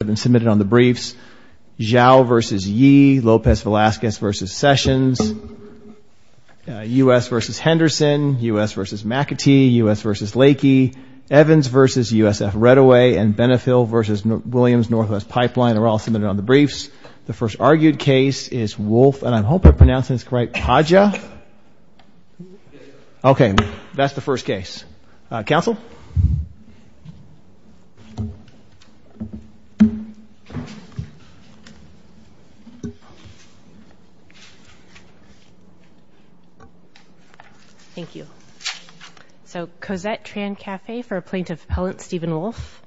have been submitted on the briefs. Zhao v. Yee, Lopez Velasquez v. Sessions, U.S. v. Henderson, U.S. v. McAtee, U.S. v. Lakey, Evans v. USF Redaway, and Benefil v. Williams, Northwest Pipeline, are all submitted on the briefs. The first argued case is Wolff and I hope I pronounce his right, Padja? Okay, that's the first case. Counsel? Thank you. So, Cosette Trancafe for Plaintiff Appellant Stephen Wolff.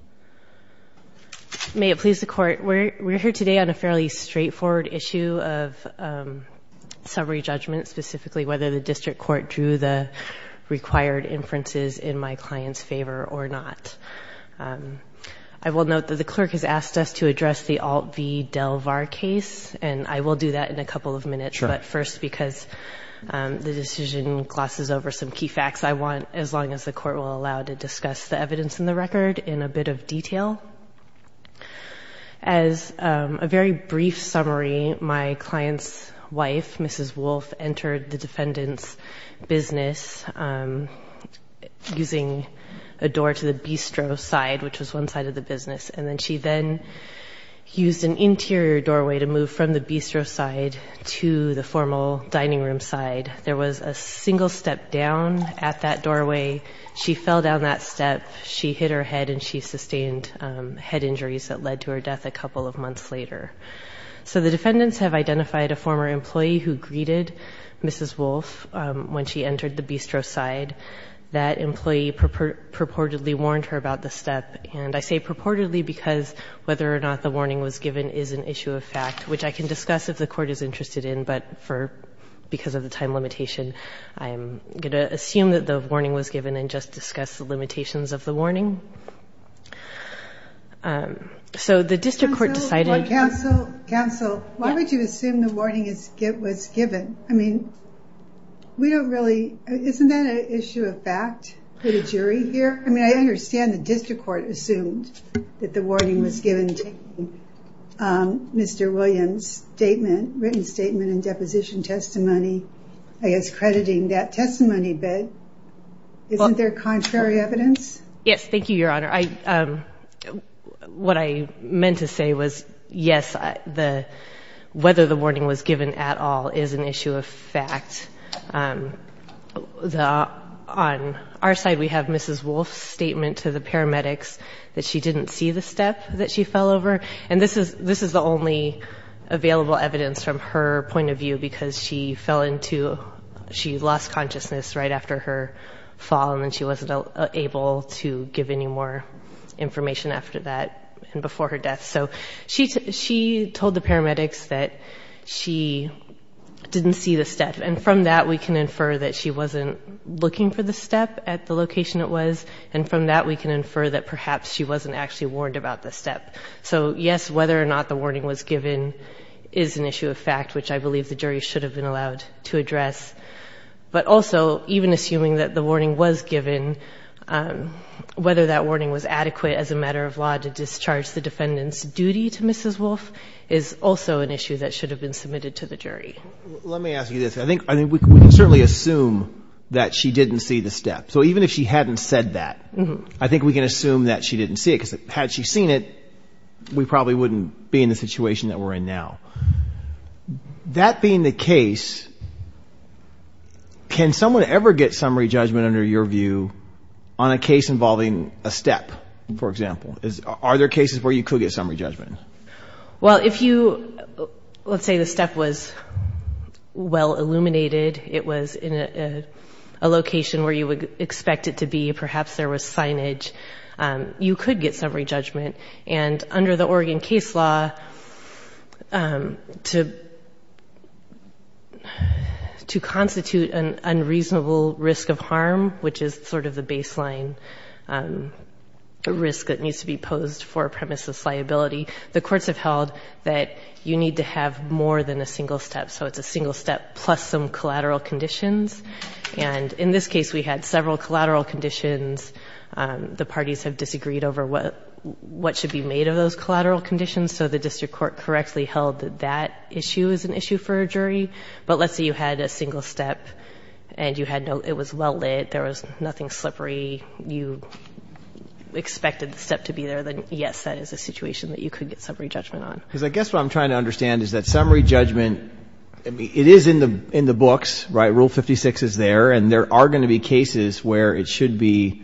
May it please the Court, we're here today on a fairly straightforward issue of summary judgment, specifically whether the client's favor or not. I will note that the clerk has asked us to address the Alt v. DelVar case, and I will do that in a couple of minutes, but first because the decision glosses over some key facts, I want, as long as the Court will allow, to discuss the evidence in the record in a bit of detail. As a very a door to the bistro side, which was one side of the business, and then she then used an interior doorway to move from the bistro side to the formal dining room side. There was a single step down at that doorway. She fell down that step, she hit her head, and she sustained head injuries that led to her death a couple of months later. So the defendants have identified a former employee who greeted Mrs. Wolff when she entered the bistro side. That employee purportedly warned her about the step, and I say purportedly because whether or not the warning was given is an issue of fact, which I can discuss if the Court is interested in, but for, because of the time limitation, I'm going to assume that the warning was given and just discuss the limitations of the warning. So the district court decided Counsel, Counsel, why would you assume the warning is, was given? I mean, we don't really, isn't that an issue of fact for the jury here? I mean, I understand the district court assumed that the warning was given taking Mr. Williams' statement, written statement and deposition testimony, I guess crediting that testimony, but isn't there contrary evidence? Yes. Thank you, Your Honor. So what I meant to say was, yes, the, whether the warning was given at all is an issue of fact. The, on our side, we have Mrs. Wolff's statement to the paramedics that she didn't see the step that she fell over, and this is, this is the only available evidence from her point of view, because she fell into, she lost consciousness right after her fall, and then she wasn't able to give any more information after that and before her death. So she, she told the paramedics that she didn't see the step, and from that we can infer that she wasn't looking for the step at the location it was, and from that we can infer that perhaps she wasn't actually warned about the step. So yes, whether or not the warning was given is an issue of fact, which I believe the jury should have been allowed to address. But also, even assuming that the warning was given, whether that warning was adequate as a matter of law to discharge the defendant's duty to Mrs. Wolff is also an issue that should have been submitted to the jury. Let me ask you this. I think, I mean, we can certainly assume that she didn't see the step. So even if she hadn't said that, I think we can assume that she didn't see it, because had she seen it, we probably wouldn't be in the situation that we're in now. That being the case, can someone ever get summary judgment under your view on a case involving a step, for example? Are there cases where you could get summary judgment? Well, if you, let's say the step was well illuminated, it was in a location where you would expect it to be, perhaps there was signage, you could get summary judgment. And under the of harm, which is sort of the baseline risk that needs to be posed for a premise of liability, the courts have held that you need to have more than a single step. So it's a single step plus some collateral conditions. And in this case, we had several collateral conditions. The parties have disagreed over what should be made of those collateral conditions. So the district court correctly held that that issue is an issue for a jury. But let's say you had a single step and it was well lit, there was nothing slippery, you expected the step to be there, then yes, that is a situation that you could get summary judgment on. Because I guess what I'm trying to understand is that summary judgment, it is in the books, right? Rule 56 is there, and there are going to be cases where it should be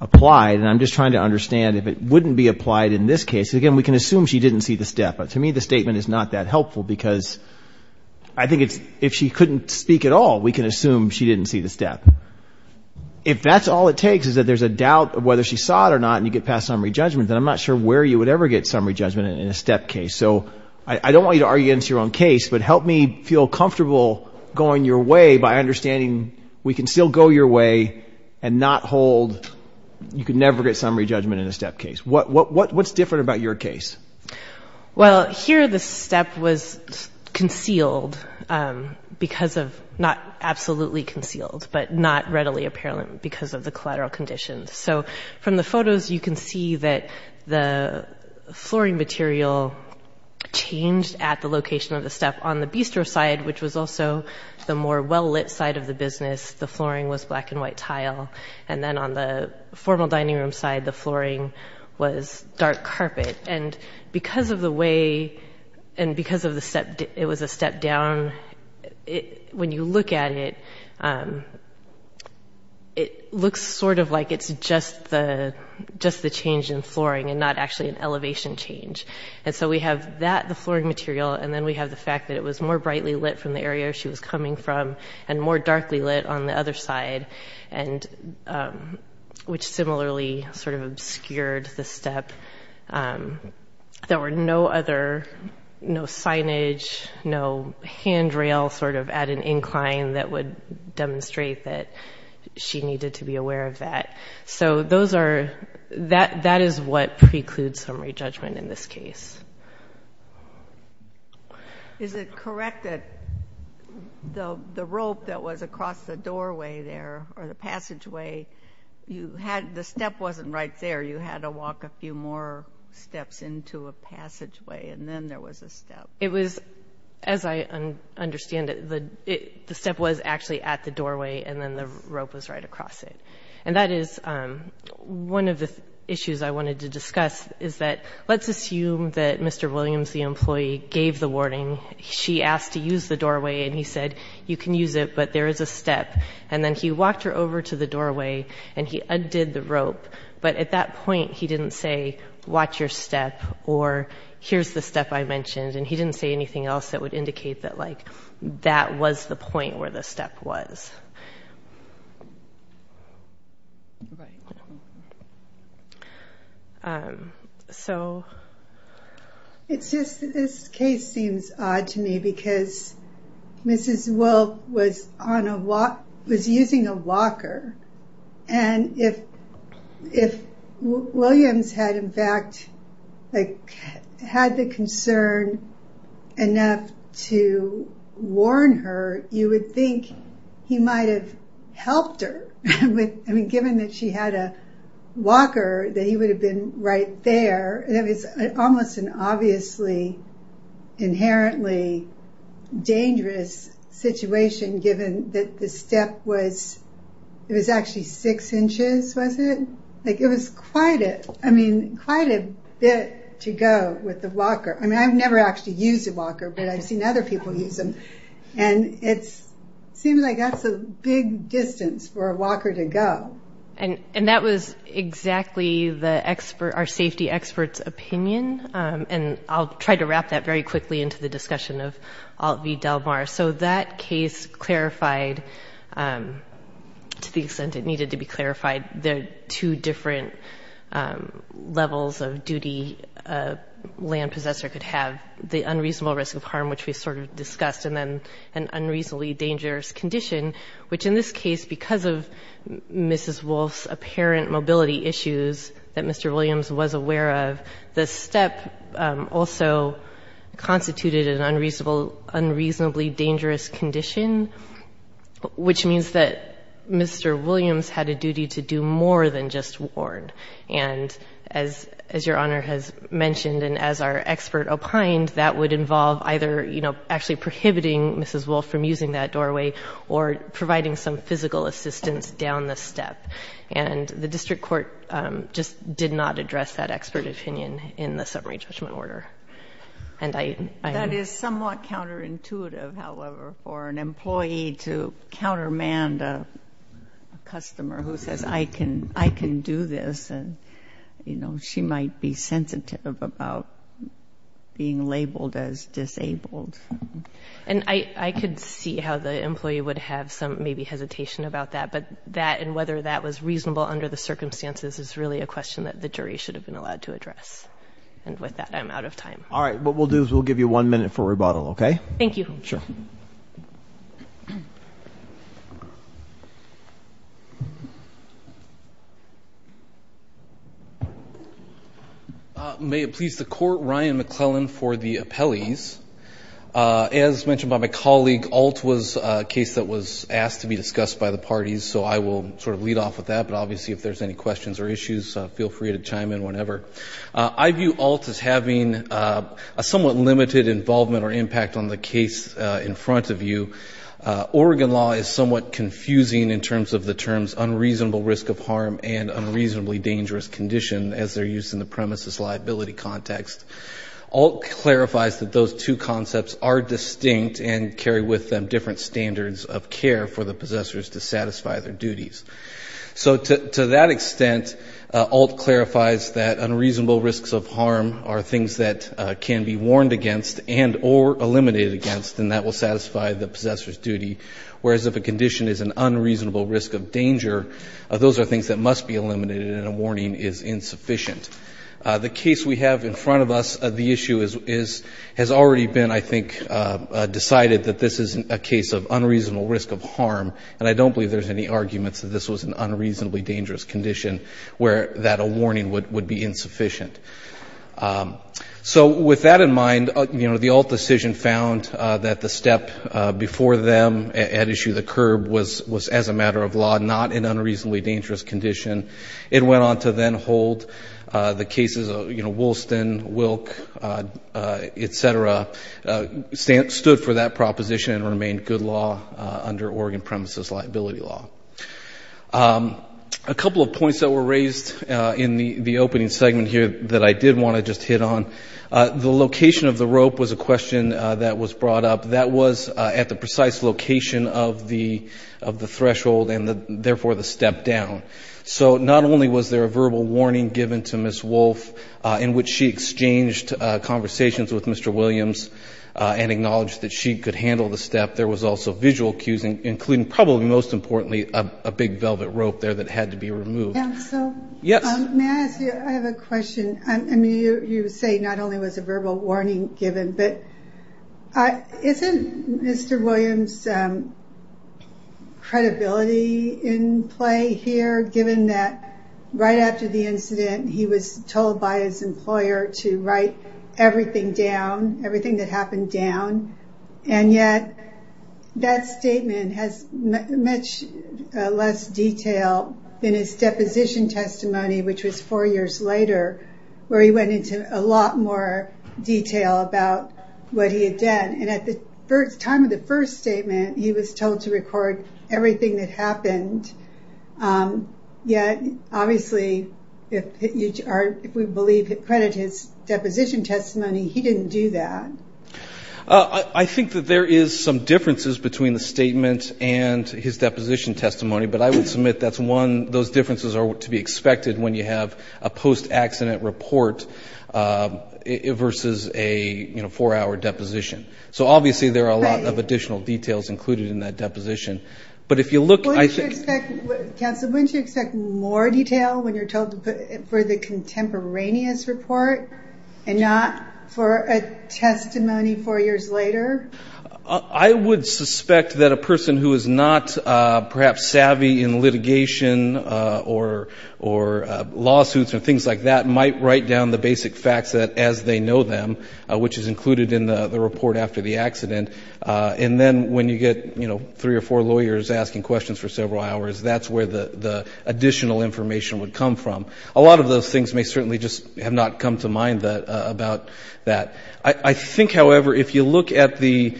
applied. And I'm just trying to understand if it wouldn't be applied in this case. Again, we can assume she didn't see the step, but to me the statement is not that helpful because I think it's if she couldn't speak at all, we can assume she didn't see the step. If that's all it takes is that there's a doubt of whether she saw it or not and you get past summary judgment, then I'm not sure where you would ever get summary judgment in a step case. So I don't want you to argue against your own case, but help me feel comfortable going your way by understanding we can still go your way and not hold, you could never get summary judgment in a step case. What's different about your case? Well, here the step was concealed because of, not absolutely concealed, but not readily apparent because of the collateral conditions. So from the photos you can see that the flooring material changed at the location of the step on the bistro side, which was also the more well-lit side of the business. The flooring was black and white tile. And then on the formal dining room side, the flooring was dark carpet. And because of the way, and because it was a step down, when you look at it, it looks sort of like it's just the change in flooring and not actually an elevation change. And so we have that, the flooring material, and then we have the fact that it was more brightly lit from the area she was coming from and more which similarly sort of obscured the step. There were no other, no signage, no handrail sort of at an incline that would demonstrate that she needed to be aware of that. So those are, that is what precludes summary judgment in this case. Is it correct that the rope that was across the doorway there or the you had, the step wasn't right there, you had to walk a few more steps into a passageway and then there was a step? It was, as I understand it, the step was actually at the doorway and then the rope was right across it. And that is one of the issues I wanted to discuss is that, let's assume that Mr. Williams, the employee, gave the warning. She asked to use the doorway and he said, you can use it, but there is a step. And then he walked her over to the doorway and he undid the rope, but at that point he didn't say, watch your step, or here's the step I mentioned. And he didn't say anything else that would indicate that like that was the point where the step was. So it's just this case seems odd to me because Mrs. Wilk was on a walk, was using a walker, and if Williams had in fact like had the concern enough to warn her, you would think he might have helped her. I mean, given that she had a walker, that he would have been right there, it was almost an obviously inherently dangerous situation given that the step was, it was actually six inches, was it? Like it was quite a, I mean, quite a bit to go with the walker. I have never actually used a walker, but I've seen other people use them, and it seems like that's a big distance for a walker to go. And that was exactly the expert, our safety experts opinion, and I'll try to wrap that very quickly into the discussion of Alt V Del Mar. So that case clarified, to the extent it needed to be clarified, the two different levels of duty a land possessor could have, the unreasonable risk of harm, which we sort of discussed, and then an unreasonably dangerous condition, which in this case, because of Mrs. Wilk's apparent mobility issues that Mr. Williams was aware of, the step also constituted an unreasonable unreasonably dangerous condition, which means that Mr. Williams had a duty to do more than just warn. And as Your Honor has mentioned, and as our expert opined, that would involve either, you know, actually prohibiting Mrs. Wilk from using that doorway or providing some physical assistance down the step. And the district court just did not address that expert opinion in the summary judgment order. And I am — I'm sensitive, however, for an employee to countermand a customer who says, I can — I can do this. And, you know, she might be sensitive about being labeled as disabled. And I could see how the employee would have some maybe hesitation about that, but that and whether that was reasonable under the circumstances is really a question that the jury should have been allowed to address. And with that, I'm out of time. All right. What we'll do is we'll give you one minute for rebuttal, okay? Thank you. Sure. May it please the Court, Ryan McClellan for the appellees. As mentioned by my colleague, Alt was a case that was asked to be discussed by the parties, so I will sort of lead off with that. But obviously, if there's any questions or issues, feel free to chime in whenever. I view Alt as having a somewhat limited involvement or impact on the case in front of you. Oregon law is somewhat confusing in terms of the terms unreasonable risk of harm and unreasonably dangerous condition as they're used in the premises liability context. Alt clarifies that those two concepts are distinct and carry with them different standards of care for the possessors to satisfy their duties. So to that extent, Alt clarifies that unreasonable risks of harm are things that can be warned against and or eliminated against and that will satisfy the possessor's duty, whereas if a condition is an unreasonable risk of danger, those are things that must be eliminated and a warning is insufficient. The case we have in front of us, the issue has already been, I think, decided that this is a case of unreasonable risk of harm, and I don't believe there's any arguments that this was an unreasonably dangerous condition where that a warning would be insufficient. So with that in mind, the Alt decision found that the step before them at issue of the curb was, as a matter of law, not an unreasonably dangerous condition. It went on to then hold the cases of, you know, Wolsten, Wilk, et cetera, stood for that proposition and remained good law under Oregon premises liability law. A couple of points that were raised in the opening segment here that I did want to just hit on. The location of the rope was a question that was brought up. That was at the precise location of the threshold and, therefore, the step down. So not only was there a verbal warning given to Ms. Wolfe in which she exchanged conversations with Mr. Williams and acknowledged that she could handle the step, there was also visual cues, including, probably most importantly, a big velvet rope there that had to be removed. Yes? I have a question. You say not only was a verbal warning given, but isn't Mr. Williams' credibility in play here, given that right after the incident he was told by his employer to write everything down, everything that happened down, and yet that statement has much less detail than his deposition testimony, which was four years later, where he went into a lot more detail about what he had done. And at the time of the first statement, he was told to record everything that happened. Yet, obviously, if we believe, credit his deposition testimony, he didn't do that. I think that there is some differences between the statement and his deposition testimony, but I would submit that those differences are to be expected when you have a post-accident report versus a four-hour deposition. So, obviously, there are a lot of additional details included in that deposition. But if you look, I think- Counsel, wouldn't you expect more detail when you're told for the contemporaneous report and not for a testimony four years later? I would suspect that a person who is not perhaps savvy in litigation or lawsuits or things like that has a lot of basic facts as they know them, which is included in the report after the accident. And then when you get three or four lawyers asking questions for several hours, that's where the additional information would come from. A lot of those things may certainly just have not come to mind about that. I think, however, if you look at the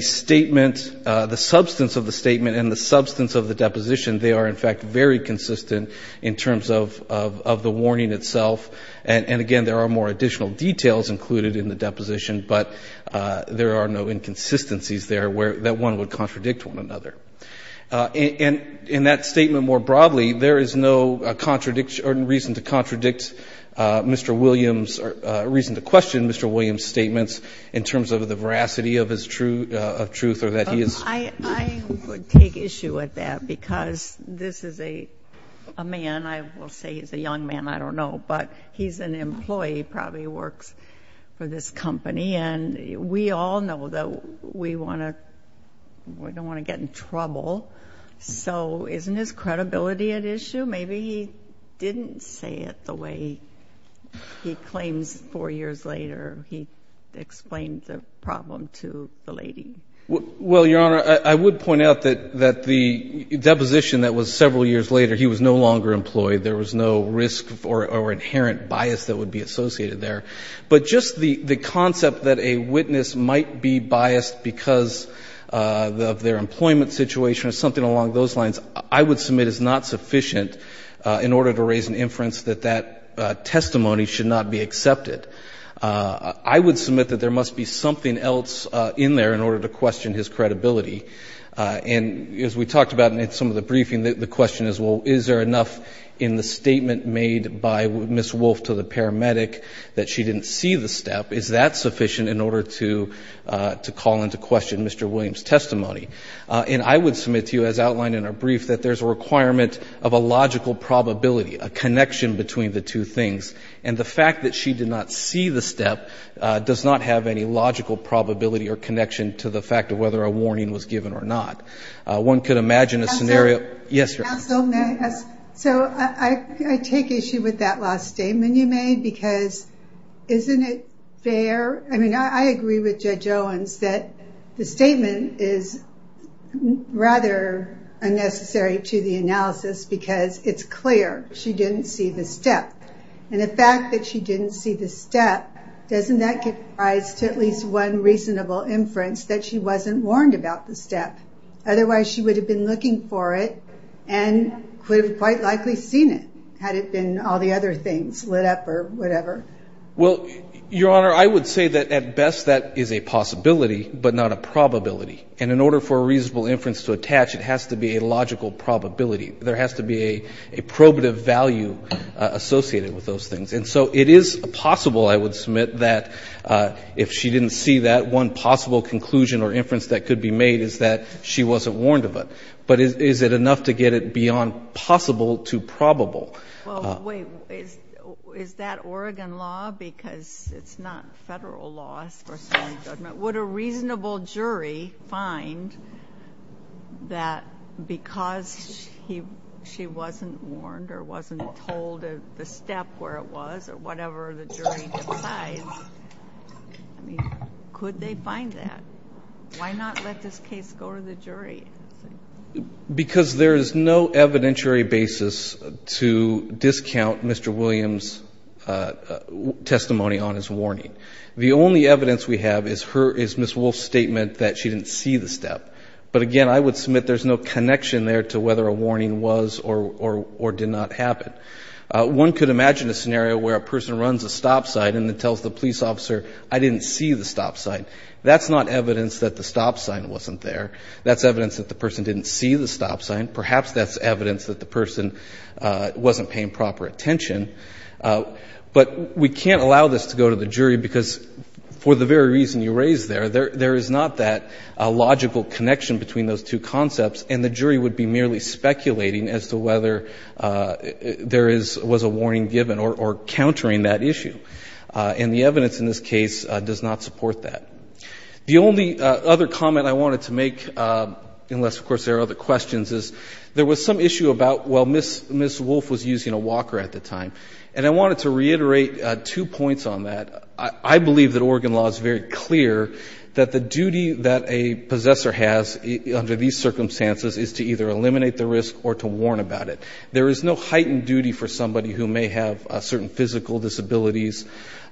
statement, the substance of the statement and the substance of the deposition, they are, in fact, very consistent in terms of the warning itself. And, again, there are more additional details included in the deposition, but there are no inconsistencies there that one would contradict one another. And in that statement more broadly, there is no contradiction or reason to contradict Mr. Williams or reason to question Mr. Williams' statements in terms of the veracity of his truth or that he is- I would take issue with that because this is a man, I will say he's a young man, I don't know. But he's an employee, probably works for this company. And we all know that we want to-we don't want to get in trouble. So isn't his credibility at issue? Maybe he didn't say it the way he claims four years later he explained the problem to the lady. Well, Your Honor, I would point out that the deposition that was several years later, he was no longer employed. There was no risk or inherent bias that would be associated there. But just the concept that a witness might be biased because of their employment situation or something along those lines, I would submit is not sufficient in order to raise an inference that that testimony should not be accepted. I would submit that there must be something else in there in order to question his credibility. And as we talked about in some of the briefing, the question is, well, is there enough in the statement made by Ms. Wolf to the paramedic that she didn't see the step? Is that sufficient in order to call into question Mr. Williams' testimony? And I would submit to you, as outlined in our brief, that there's a requirement of a logical probability, a connection between the two things. And the fact that she did not see the step does not have any logical probability or connection to the fact of whether a warning was given or not. One could imagine a scenario. Counsel, may I ask? So I take issue with that last statement you made because isn't it fair? I mean, I agree with Judge Owens that the statement is rather unnecessary to the analysis because it's clear she didn't see the step. And the fact that she didn't see the step, doesn't that give rise to at least one reasonable inference that she wasn't warned about the step? Otherwise, she would have been looking for it and could have quite likely seen it, had it been all the other things lit up or whatever. Well, Your Honor, I would say that at best that is a possibility but not a probability. And in order for a reasonable inference to attach, it has to be a logical probability. There has to be a probative value associated with those things. And so it is possible, I would submit, that if she didn't see that one possible conclusion or inference that could be made, is that she wasn't warned of it. But is it enough to get it beyond possible to probable? Well, wait. Is that Oregon law? Because it's not Federal law. Would a reasonable jury find that because she wasn't warned or wasn't told the step where it was or whatever the jury decides, could they find that? Why not let this case go to the jury? Because there is no evidentiary basis to discount Mr. Williams' testimony on his warning. The only evidence we have is Ms. Wolfe's statement that she didn't see the step. But, again, I would submit there's no connection there to whether a warning was or did not happen. One could imagine a scenario where a person runs a stop sign and then tells the police officer, I didn't see the stop sign. That's not evidence that the stop sign wasn't there. That's evidence that the person didn't see the stop sign. Perhaps that's evidence that the person wasn't paying proper attention. But we can't allow this to go to the jury, because for the very reason you raised there, there is not that logical connection between those two concepts, and the jury would be merely speculating as to whether there was a warning given or countering that issue. And the evidence in this case does not support that. The only other comment I wanted to make, unless, of course, there are other questions, is there was some issue about, well, Ms. Wolfe was using a walker at the time. And I wanted to reiterate two points on that. I believe that Oregon law is very clear that the duty that a possessor has under these circumstances is to either eliminate the risk or to warn about it. There is no heightened duty for somebody who may have certain physical disabilities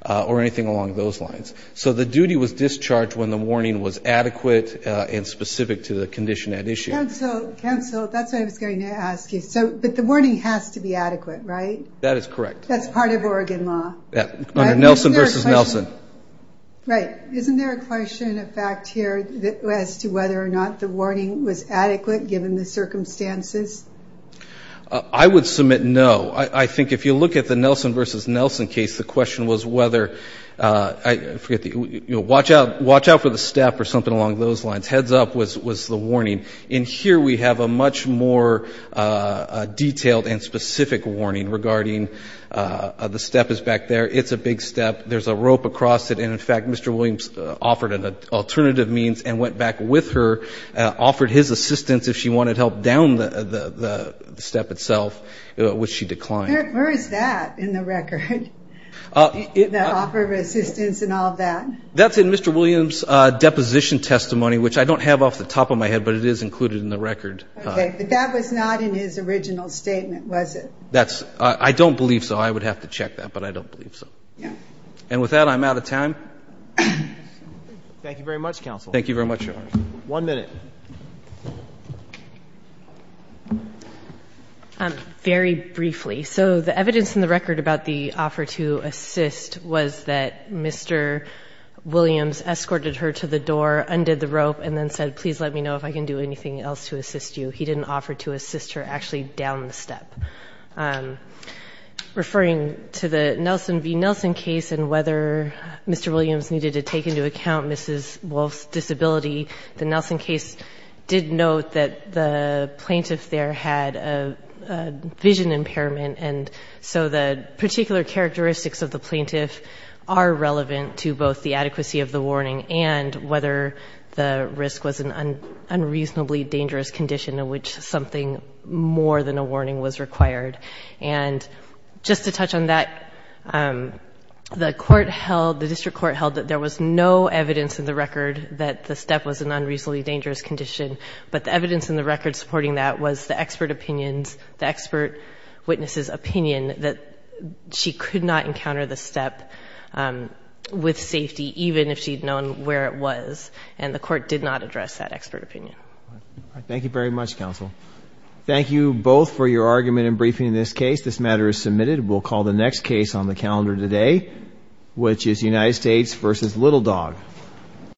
or anything along those lines. So the duty was discharged when the warning was adequate and specific to the condition at issue. Counsel, that's what I was going to ask you. But the warning has to be adequate, right? That is correct. That's part of Oregon law. Under Nelson v. Nelson. Right. Isn't there a question of fact here as to whether or not the warning was adequate, given the circumstances? I would submit no. I think if you look at the Nelson v. Nelson case, the question was whether – watch out for the staff or something along those lines. Heads up was the warning. And here we have a much more detailed and specific warning regarding the step is back there. It's a big step. There's a rope across it. And, in fact, Mr. Williams offered an alternative means and went back with her, offered his assistance if she wanted help down the step itself, which she declined. Where is that in the record, the offer of assistance and all of that? That's in Mr. Williams' deposition testimony, which I don't have off the top of my head, but it is included in the record. Okay. But that was not in his original statement, was it? That's – I don't believe so. I would have to check that, but I don't believe so. Yeah. And with that, I'm out of time. Thank you very much, counsel. Thank you very much, Your Honor. One minute. Very briefly. So the evidence in the record about the offer to assist was that Mr. Williams escorted her to the door, undid the rope, and then said, please let me know if I can do anything else to assist you. He didn't offer to assist her actually down the step. Referring to the Nelson v. Nelson case and whether Mr. Williams needed to take into account Mrs. Wolfe's disability, the Nelson case did note that the plaintiff there had a vision impairment, and so the particular characteristics of the plaintiff are relevant to both the adequacy of the warning and whether the risk was an unreasonably dangerous condition in which something more than a warning was required. And just to touch on that, the court held, the district court held that there was no evidence in the record that the step was an unreasonably dangerous condition, but the evidence in the record supporting that was the expert opinion, the expert witness's opinion that she could not encounter the step with safety, even if she'd known where it was, and the court did not address that expert opinion. Thank you very much, counsel. Thank you both for your argument in briefing this case. This matter is submitted. We'll call the next case on the calendar today, which is United States v. Little Dog.